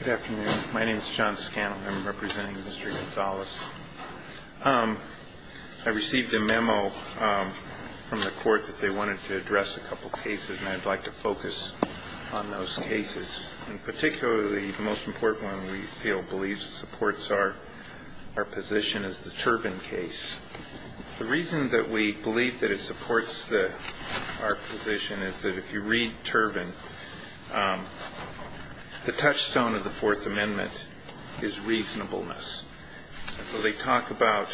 Good afternoon. My name is John Scanlon. I'm representing Mr. Gonzalez. I received a memo from the court that they wanted to address a couple cases, and I'd like to focus on those cases, and particularly the most important one we feel believes supports our position is the Turbin case. The reason that we believe that it supports the – our position is that if you read Turbin, the touchstone of the Fourth Amendment is reasonableness. So they talk about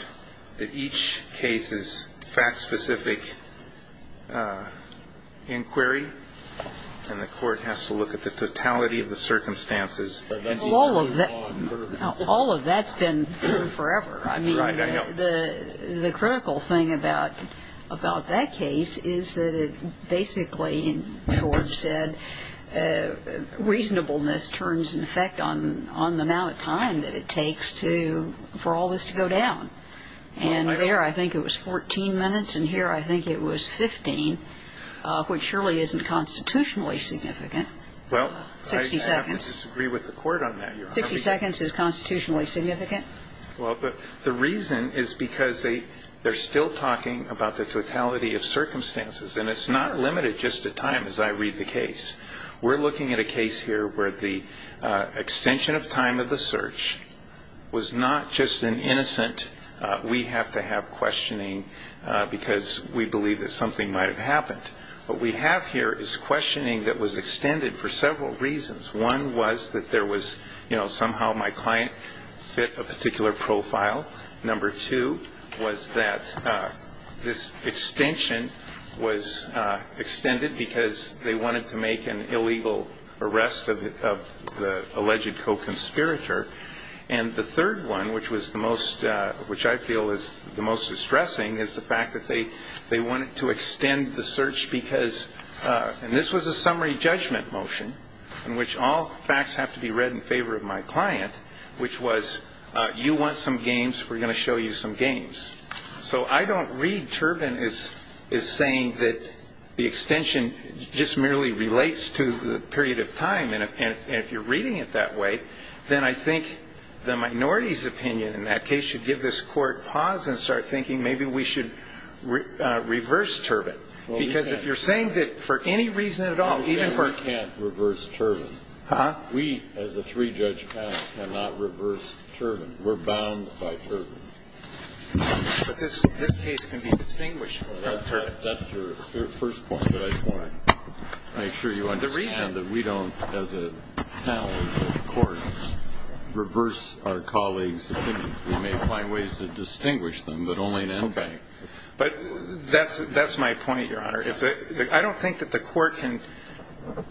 that each case is fact-specific inquiry, and the court has to look at the totality of the circumstances. Well, all of that's been true forever. I mean, the critical thing about that case is that it basically, as George said, reasonableness turns in effect on the amount of time that it takes to – for all this to go down. And there I think it was 14 minutes, and here I think it was 15, which surely isn't constitutionally significant. Well, I have to disagree with the court on that, Your Honor. 60 seconds is constitutionally significant. Well, but the reason is because they're still talking about the totality of circumstances, and it's not limited just to time, as I read the case. We're looking at a case here where the extension of time of the search was not just an innocent, we-have-to-have questioning because we believe that something might have happened. What we have here is questioning that was extended for several reasons. One was that there was, you know, somehow my client fit a particular profile. Number two was that this extension was extended because they wanted to make an illegal arrest of the alleged co-conspirator. And the third one, which was the most – which I feel is the most distressing, is the fact that they wanted to extend the search because – and this was a summary judgment motion in which all facts have to be read in favor of my client, which was you want some games, we're going to show you some games. So I don't read Turbin as saying that the extension just merely relates to the period of time. And if you're reading it that way, then I think the minority's opinion in that case should give this Court pause and start thinking maybe we should reverse Turbin. Because if you're saying that for any reason at all, even for – I'm saying we can't reverse Turbin. Huh? We, as a three-judge panel, cannot reverse Turbin. We're bound by Turbin. But this case can be distinguished from Turbin. That's your first point, but I just want to make sure you understand that we don't, as a panel of the Court, reverse our colleagues' opinions. We may find ways to distinguish them, but only in endgame. Okay. But that's my point, Your Honor. I don't think that the Court can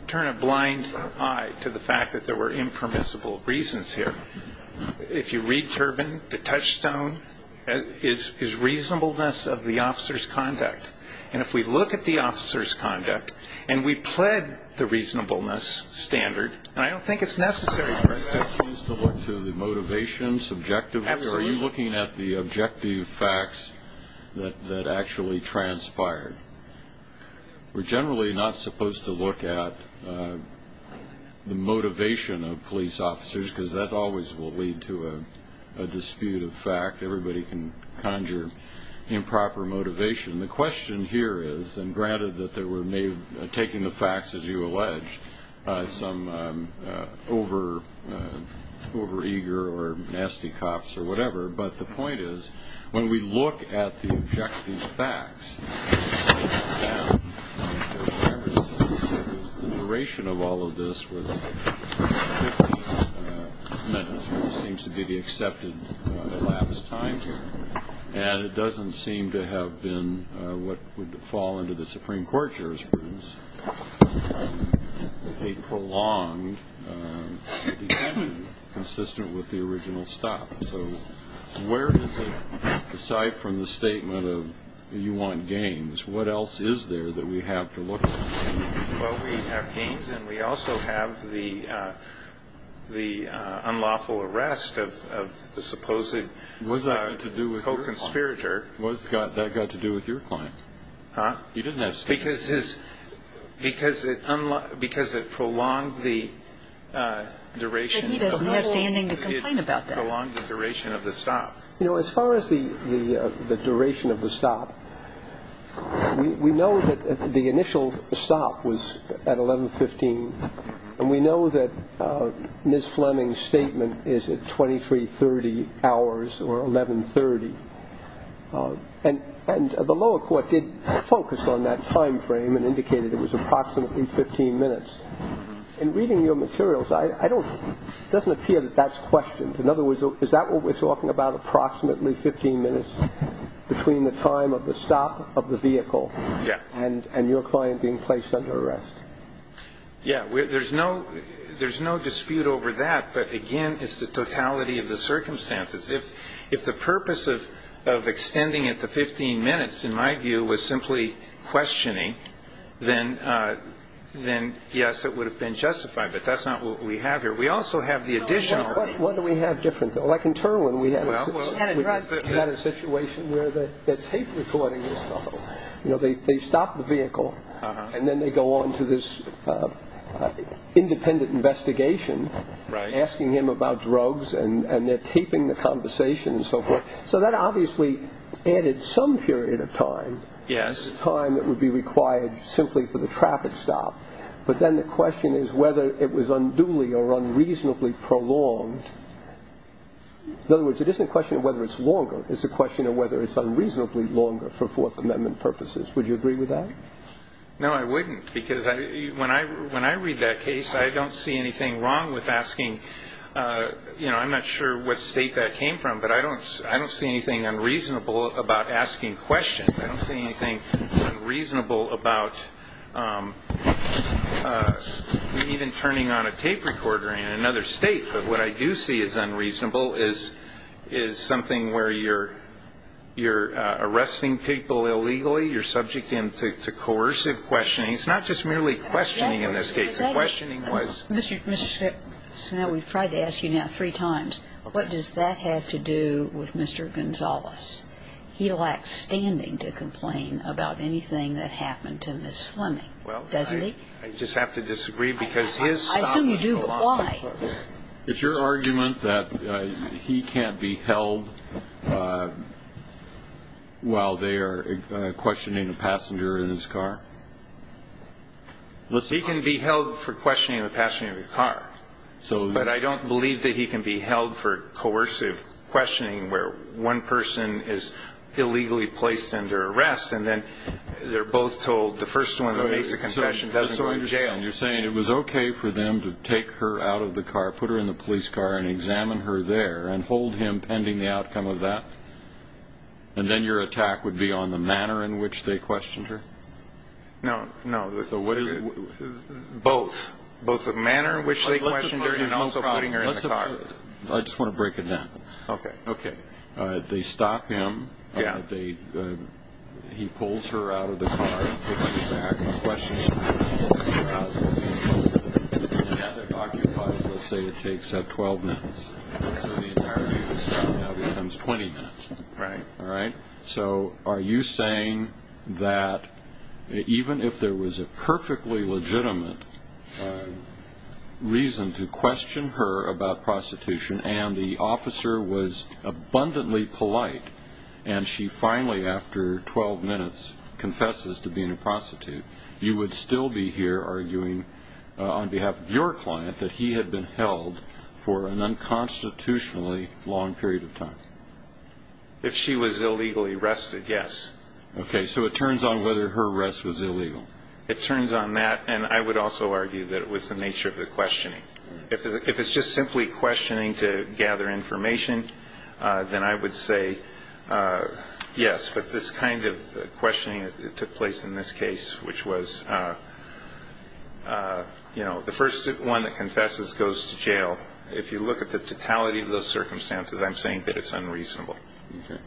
turn a blind eye to the fact that there were impermissible reasons here. If you read Turbin, the touchstone is reasonableness of the officer's conduct. And if we look at the officer's conduct and we pled the reasonableness standard – and I don't think it's necessary for us to – Are you asking us to look to the motivation, subjective – Absolutely. Are you looking at the objective facts that actually transpired? We're generally not supposed to look at the motivation of police officers because that always will lead to a dispute of fact. Everybody can conjure improper motivation. The question here is – and granted that they were taking the facts, as you allege, some over-eager or nasty cops or whatever – but the point is when we look at the objective facts, the duration of all of this seems to be the accepted lapse time. And it doesn't seem to have been what would fall under the Supreme Court jurisprudence, a prolonged detention consistent with the original stop. So where is it, aside from the statement of you want gains, what else is there that we have to look at? Well, we have gains and we also have the unlawful arrest of the supposed co-conspirator. What has that got to do with your client? Huh? He doesn't have statements. Because it prolonged the duration. He doesn't have standing to complain about that. It prolonged the duration of the stop. You know, as far as the duration of the stop, we know that the initial stop was at 11.15 and we know that Ms. Fleming's statement is at 23.30 hours or 11.30. And the lower court did focus on that time frame and indicated it was approximately 15 minutes. In reading your materials, it doesn't appear that that's questioned. In other words, is that what we're talking about, approximately 15 minutes between the time of the stop of the vehicle and your client being placed under arrest? Yeah. There's no dispute over that. But, again, it's the totality of the circumstances. If the purpose of extending it to 15 minutes, in my view, was simply questioning, then, yes, it would have been justified. But that's not what we have here. We also have the additional. What do we have different? Like in Turwin, we had a situation where the tape recording was stopped. You know, they stop the vehicle and then they go on to this independent investigation, asking him about drugs and they're taping the conversation and so forth. So that obviously added some period of time, time that would be required simply for the traffic stop. But then the question is whether it was unduly or unreasonably prolonged. In other words, it isn't a question of whether it's longer. It's a question of whether it's unreasonably longer for Fourth Amendment purposes. Would you agree with that? No, I wouldn't. Because when I read that case, I don't see anything wrong with asking. You know, I'm not sure what state that came from, but I don't see anything unreasonable about asking questions. I don't see anything unreasonable about even turning on a tape recorder in another state. But what I do see as unreasonable is something where you're arresting people illegally. You're subjecting them to coercive questioning. It's not just merely questioning in this case. The questioning was ---- Mr. Snell, we've tried to ask you now three times. What does that have to do with Mr. Gonzales? He lacks standing to complain about anything that happened to Ms. Fleming, doesn't he? Well, I just have to disagree because his stop was prolonged. I assume you do, but why? It's your argument that he can't be held while they are questioning the passenger in his car? He can be held for questioning the passenger in his car. But I don't believe that he can be held for coercive questioning where one person is illegally placed under arrest and then they're both told the first one who makes a confession doesn't go to jail. And you're saying it was okay for them to take her out of the car, put her in the police car, and examine her there and hold him pending the outcome of that? And then your attack would be on the manner in which they questioned her? No, no. So what is it? Both. Both the manner in which they questioned her and also putting her in the car. I just want to break it down. Okay. Okay. They stop him. Yeah. He pulls her out of the car, puts her in the back, and questions her. He pulls her out of the car. It's a man that occupies, let's say, it takes 12 minutes. So the entirety of the stop now becomes 20 minutes. Right. All right? So are you saying that even if there was a perfectly legitimate reason to question her about prostitution and the officer was abundantly polite and she finally, after 12 minutes, confesses to being a prostitute, you would still be here arguing on behalf of your client that he had been held for an unconstitutionally long period of time? If she was illegally arrested, yes. Okay. So it turns on whether her arrest was illegal. It turns on that. And I would also argue that it was the nature of the questioning. If it's just simply questioning to gather information, then I would say yes, but this kind of questioning that took place in this case, which was, you know, the first one that confesses goes to jail. If you look at the totality of those circumstances, I'm saying that it's unreasonable. Okay.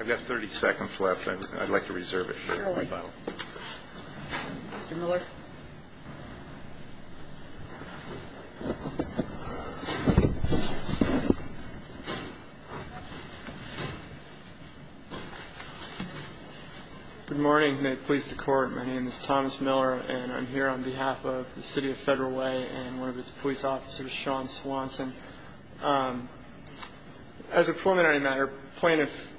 I've got 30 seconds left. I'd like to reserve it. Mr. Miller. Good morning. May it please the Court. My name is Thomas Miller, and I'm here on behalf of the City of Federal Way and one of its police officers, Sean Swanson. As a preliminary matter, plaintiff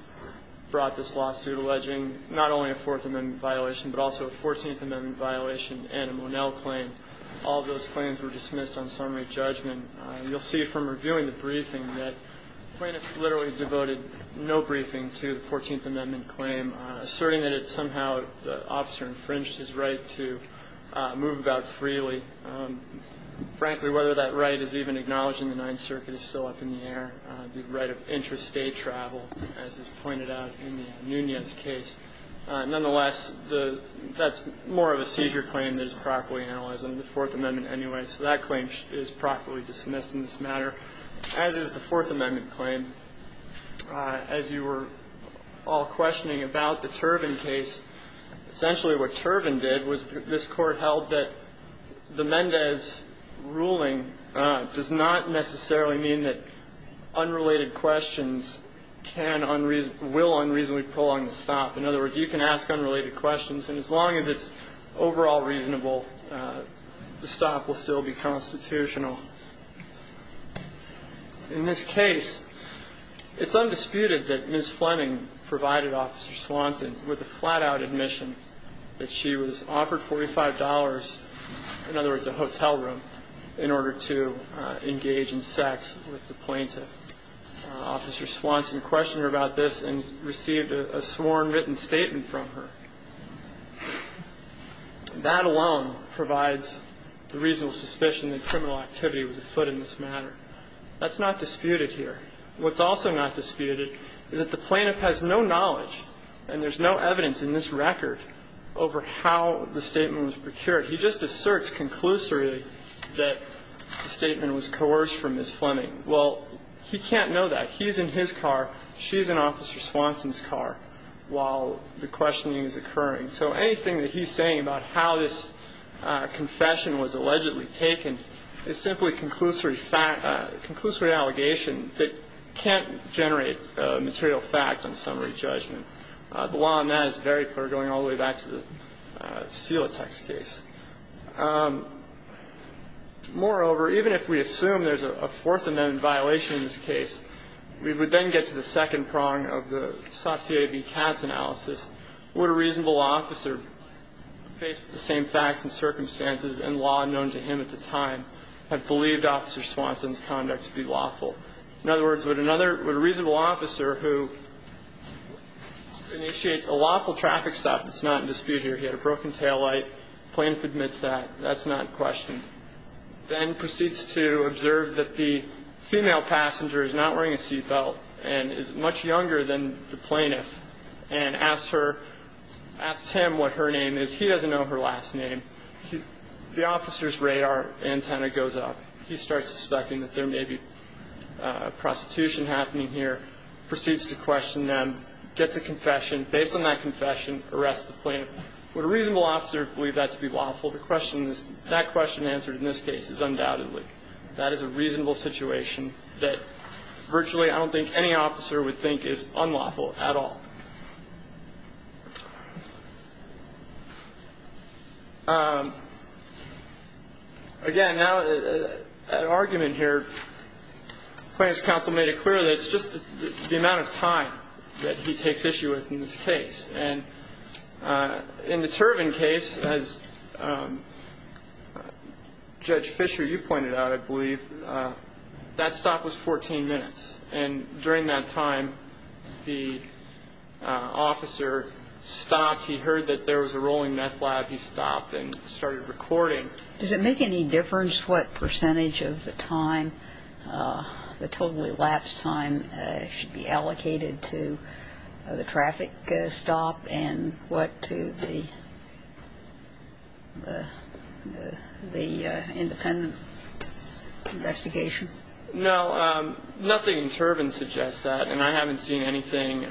brought this lawsuit alleging not only a Fourth Amendment violation but also a Fourteenth Amendment violation and a Monell claim. All of those claims were dismissed on summary judgment. You'll see from reviewing the briefing that plaintiff literally devoted no briefing to the Fourteenth Amendment claim, asserting that it's somehow the officer infringed his right to move about freely. Frankly, whether that right is even acknowledged in the Ninth Circuit is still up in the air, the right of intrastate travel, as is pointed out in the Nunez case. Nonetheless, that's more of a seizure claim that is properly analyzed under the Fourth Amendment anyway, so that claim is properly dismissed in this matter, as is the Fourth Amendment claim. As you were all questioning about the Turvin case, essentially what Turvin did was this Court held that the Mendez ruling does not necessarily mean that unrelated questions will unreasonably prolong the stop. In other words, you can ask unrelated questions, and as long as it's overall reasonable, the stop will still be constitutional. In this case, it's undisputed that Ms. Fleming provided Officer Swanson with a flat-out admission that she was offered $45, in other words, a hotel room, in order to engage in sex with the plaintiff. Officer Swanson questioned her about this and received a sworn written statement from her. That alone provides the reasonable suspicion that criminal activity was afoot in this matter. That's not disputed here. What's also not disputed is that the plaintiff has no knowledge, and there's no evidence in this record over how the statement was procured. He just asserts conclusively that the statement was coerced from Ms. Fleming. Well, he can't know that. He's in his car. She's in Officer Swanson's car while the questioning is occurring. So anything that he's saying about how this confession was allegedly taken is simply a conclusory allegation that can't generate a material fact on summary judgment. The law on that is very clear, going all the way back to the Celotex case. Moreover, even if we assume there's a Fourth Amendment violation in this case, we would then get to the second prong of the Satie v. Katz analysis. Would a reasonable officer, faced with the same facts and circumstances and law known to him at the time, have believed Officer Swanson's conduct to be lawful? In other words, would a reasonable officer who initiates a lawful traffic stop that's not in dispute here, he had a broken taillight, plaintiff admits that, that's not questioned, then proceeds to observe that the female passenger is not wearing a seatbelt and is much younger than the plaintiff, and asks her, asks him what her name is. He doesn't know her last name. The officer's radar antenna goes up. He starts suspecting that there may be prostitution happening here, proceeds to question them, gets a confession. Based on that confession, arrests the plaintiff. Would a reasonable officer believe that to be lawful? The question is, that question answered in this case is undoubtedly. That is a reasonable situation that virtually I don't think any officer would think is unlawful at all. Again, now, an argument here, Plaintiff's counsel made it clear that it's just the amount of time that he takes issue with in this case. And in the Turbin case, as Judge Fisher, you pointed out, I believe, that stop was 14 minutes. And during that time, the officer stopped. He heard that there was a rolling meth lab. He stopped and started recording. Does it make any difference what percentage of the time, the totally lapsed time, should be allocated to the traffic stop and what to the independent investigation? No. Nothing in Turbin suggests that. And I haven't seen anything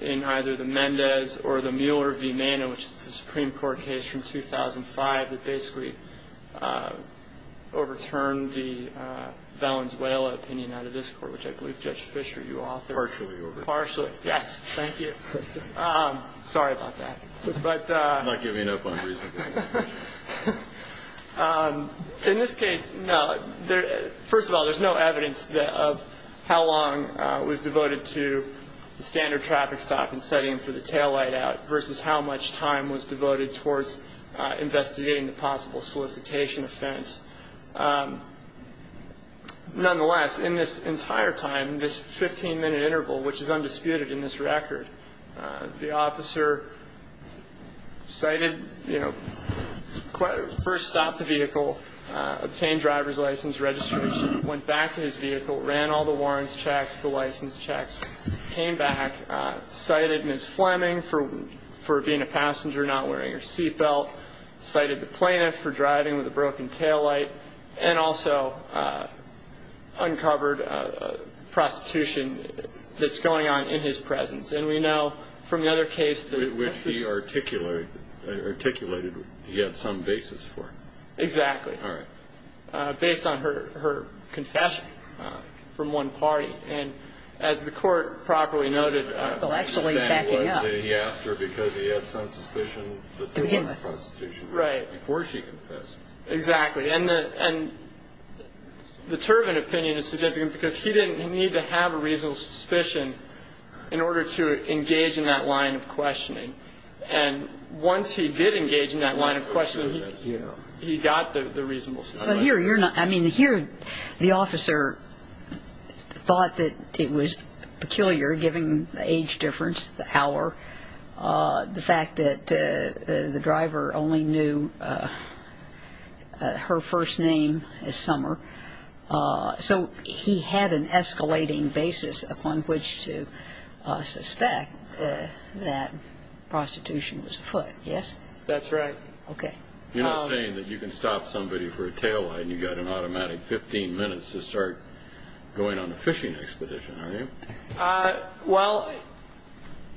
in either the Mendez or the Mueller v. Manna, which is the Supreme Court case from 2005 that basically overturned the Valenzuela opinion out of this Court, which I believe, Judge Fisher, you authored. Partially overturned. Partially. Yes. Thank you. Sorry about that. I'm not giving up on reasonable suspicion. In this case, no. First of all, there's no evidence of how long was devoted to the standard traffic stop and setting for the tail light out versus how much time was devoted towards investigating the possible solicitation offense. Nonetheless, in this entire time, this 15-minute interval, which is undisputed in this record, the officer first stopped the vehicle, obtained driver's license registration, went back to his vehicle, ran all the warrants checks, the license checks, came back, cited Ms. Fleming for being a passenger, not wearing her seat belt, cited the plaintiff for driving with a broken tail light, and also uncovered prostitution that's going on in his presence. And we know from the other case that he had some basis for it. Exactly. All right. Based on her confession from one party. And as the Court properly noted. Well, actually backing up. He asked her because he had some suspicion that there was prostitution before she confessed. Exactly. And the Turbin opinion is significant because he didn't need to have a reasonable suspicion in order to engage in that line of questioning. And once he did engage in that line of questioning, he got the reasonable suspicion. I mean, here the officer thought that it was peculiar, given the age difference, the hour, the fact that the driver only knew her first name as Summer. So he had an escalating basis upon which to suspect that prostitution was afoot. Yes? That's right. Okay. You're not saying that you can stop somebody for a tail light and you've got an automatic 15 minutes to start going on a fishing expedition, are you? Well,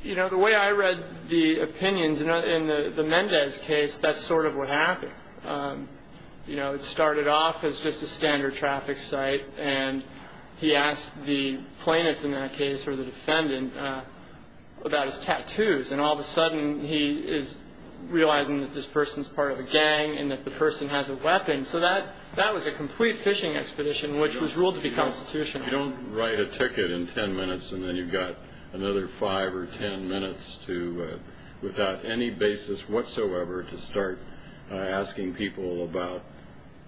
you know, the way I read the opinions in the Mendez case, that's sort of what happened. You know, it started off as just a standard traffic site, and he asked the plaintiff in that case, or the defendant, about his tattoos. And all of a sudden he is realizing that this person is part of a gang and that the person has a weapon. So that was a complete fishing expedition, which was ruled to be constitutional. You don't write a ticket in 10 minutes and then you've got another 5 or 10 minutes without any basis whatsoever to start asking people about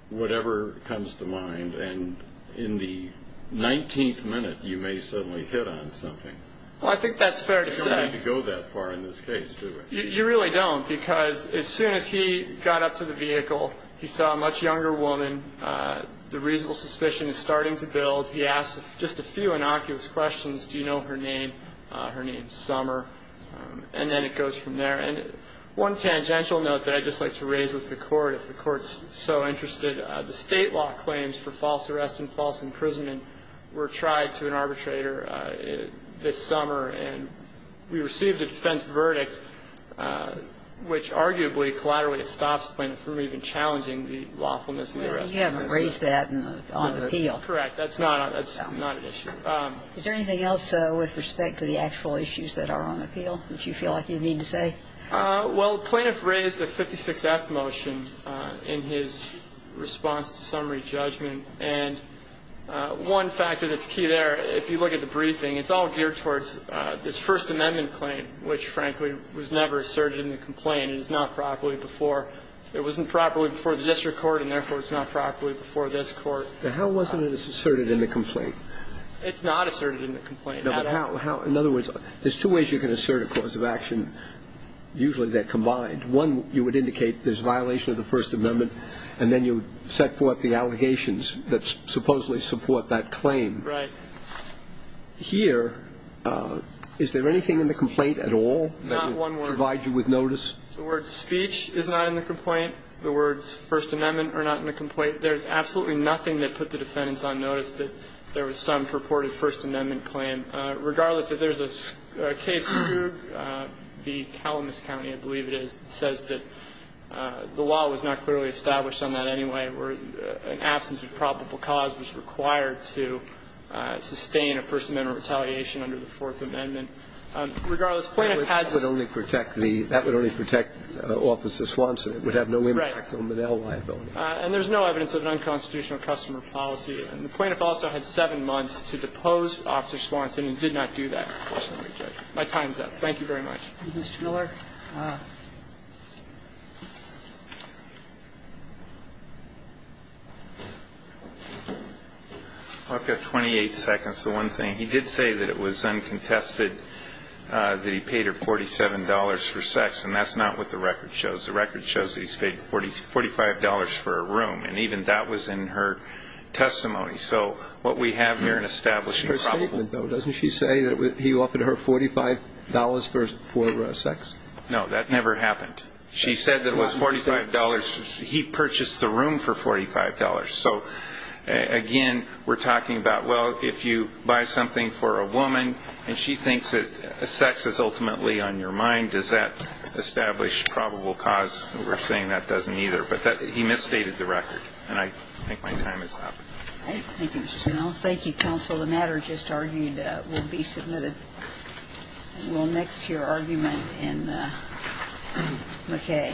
whatever comes to mind, and in the 19th minute you may suddenly hit on something. Well, I think that's fair to say. You don't need to go that far in this case, do you? You really don't, because as soon as he got up to the vehicle, he saw a much younger woman, the reasonable suspicion is starting to build, he asks just a few innocuous questions. Do you know her name? Her name's Summer. And then it goes from there. And one tangential note that I'd just like to raise with the Court, if the Court's so interested, the State law claims for false arrest and false imprisonment were tried to an arbitrator this summer, and we received a defense verdict, which arguably collaterally stops the plaintiff from even challenging the lawfulness of the arrest. Well, you haven't raised that on the appeal. Correct. That's not an issue. Is there anything else with respect to the actual issues that are on appeal that you feel like you need to say? Well, the plaintiff raised a 56-F motion in his response to summary judgment. And one factor that's key there, if you look at the briefing, it's all geared towards this First Amendment claim, which frankly was never asserted in the complaint. It was not properly before. It wasn't properly before the district court, and therefore it's not properly before this Court. But how wasn't it asserted in the complaint? It's not asserted in the complaint. No, but how? In other words, there's two ways you can assert a cause of action. Usually they're combined. One, you would indicate there's violation of the First Amendment, and then you set forth the allegations that supposedly support that claim. Right. Here, is there anything in the complaint at all that would provide you with notice? Not one word. The word speech is not in the complaint. The words First Amendment are not in the complaint. There's absolutely nothing that put the defendants on notice that there was some purported First Amendment claim. Regardless, if there's a case, the Calamus County, I believe it is, that says that the law was not clearly established on that anyway, or an absence of probable cause was required to sustain a First Amendment retaliation under the Fourth Amendment. Regardless, plaintiff has to say. That would only protect the – that would only protect Officer Swanson. Right. It would have no impact on Monell liability. And there's no evidence of an unconstitutional customer policy. And the plaintiff also had seven months to depose Officer Swanson and did not do that in the First Amendment judgment. My time is up. Thank you very much. Mr. Miller. I've got 28 seconds to one thing. He did say that it was uncontested that he paid her $47 for sex, and that's not what the record shows. The record shows that he's paid $45 for a room. And even that was in her testimony. So what we have here in establishing probable cause. Her statement, though, doesn't she say that he offered her $45 for sex? No, that never happened. She said that it was $45. He purchased the room for $45. So, again, we're talking about, well, if you buy something for a woman and she thinks that sex is ultimately on your mind, does that establish probable cause? We're saying that doesn't either. But he misstated the record. And I think my time is up. All right. Thank you, Mr. Snell. Thank you, counsel. The matter just argued will be submitted. We'll next to your argument in McKay.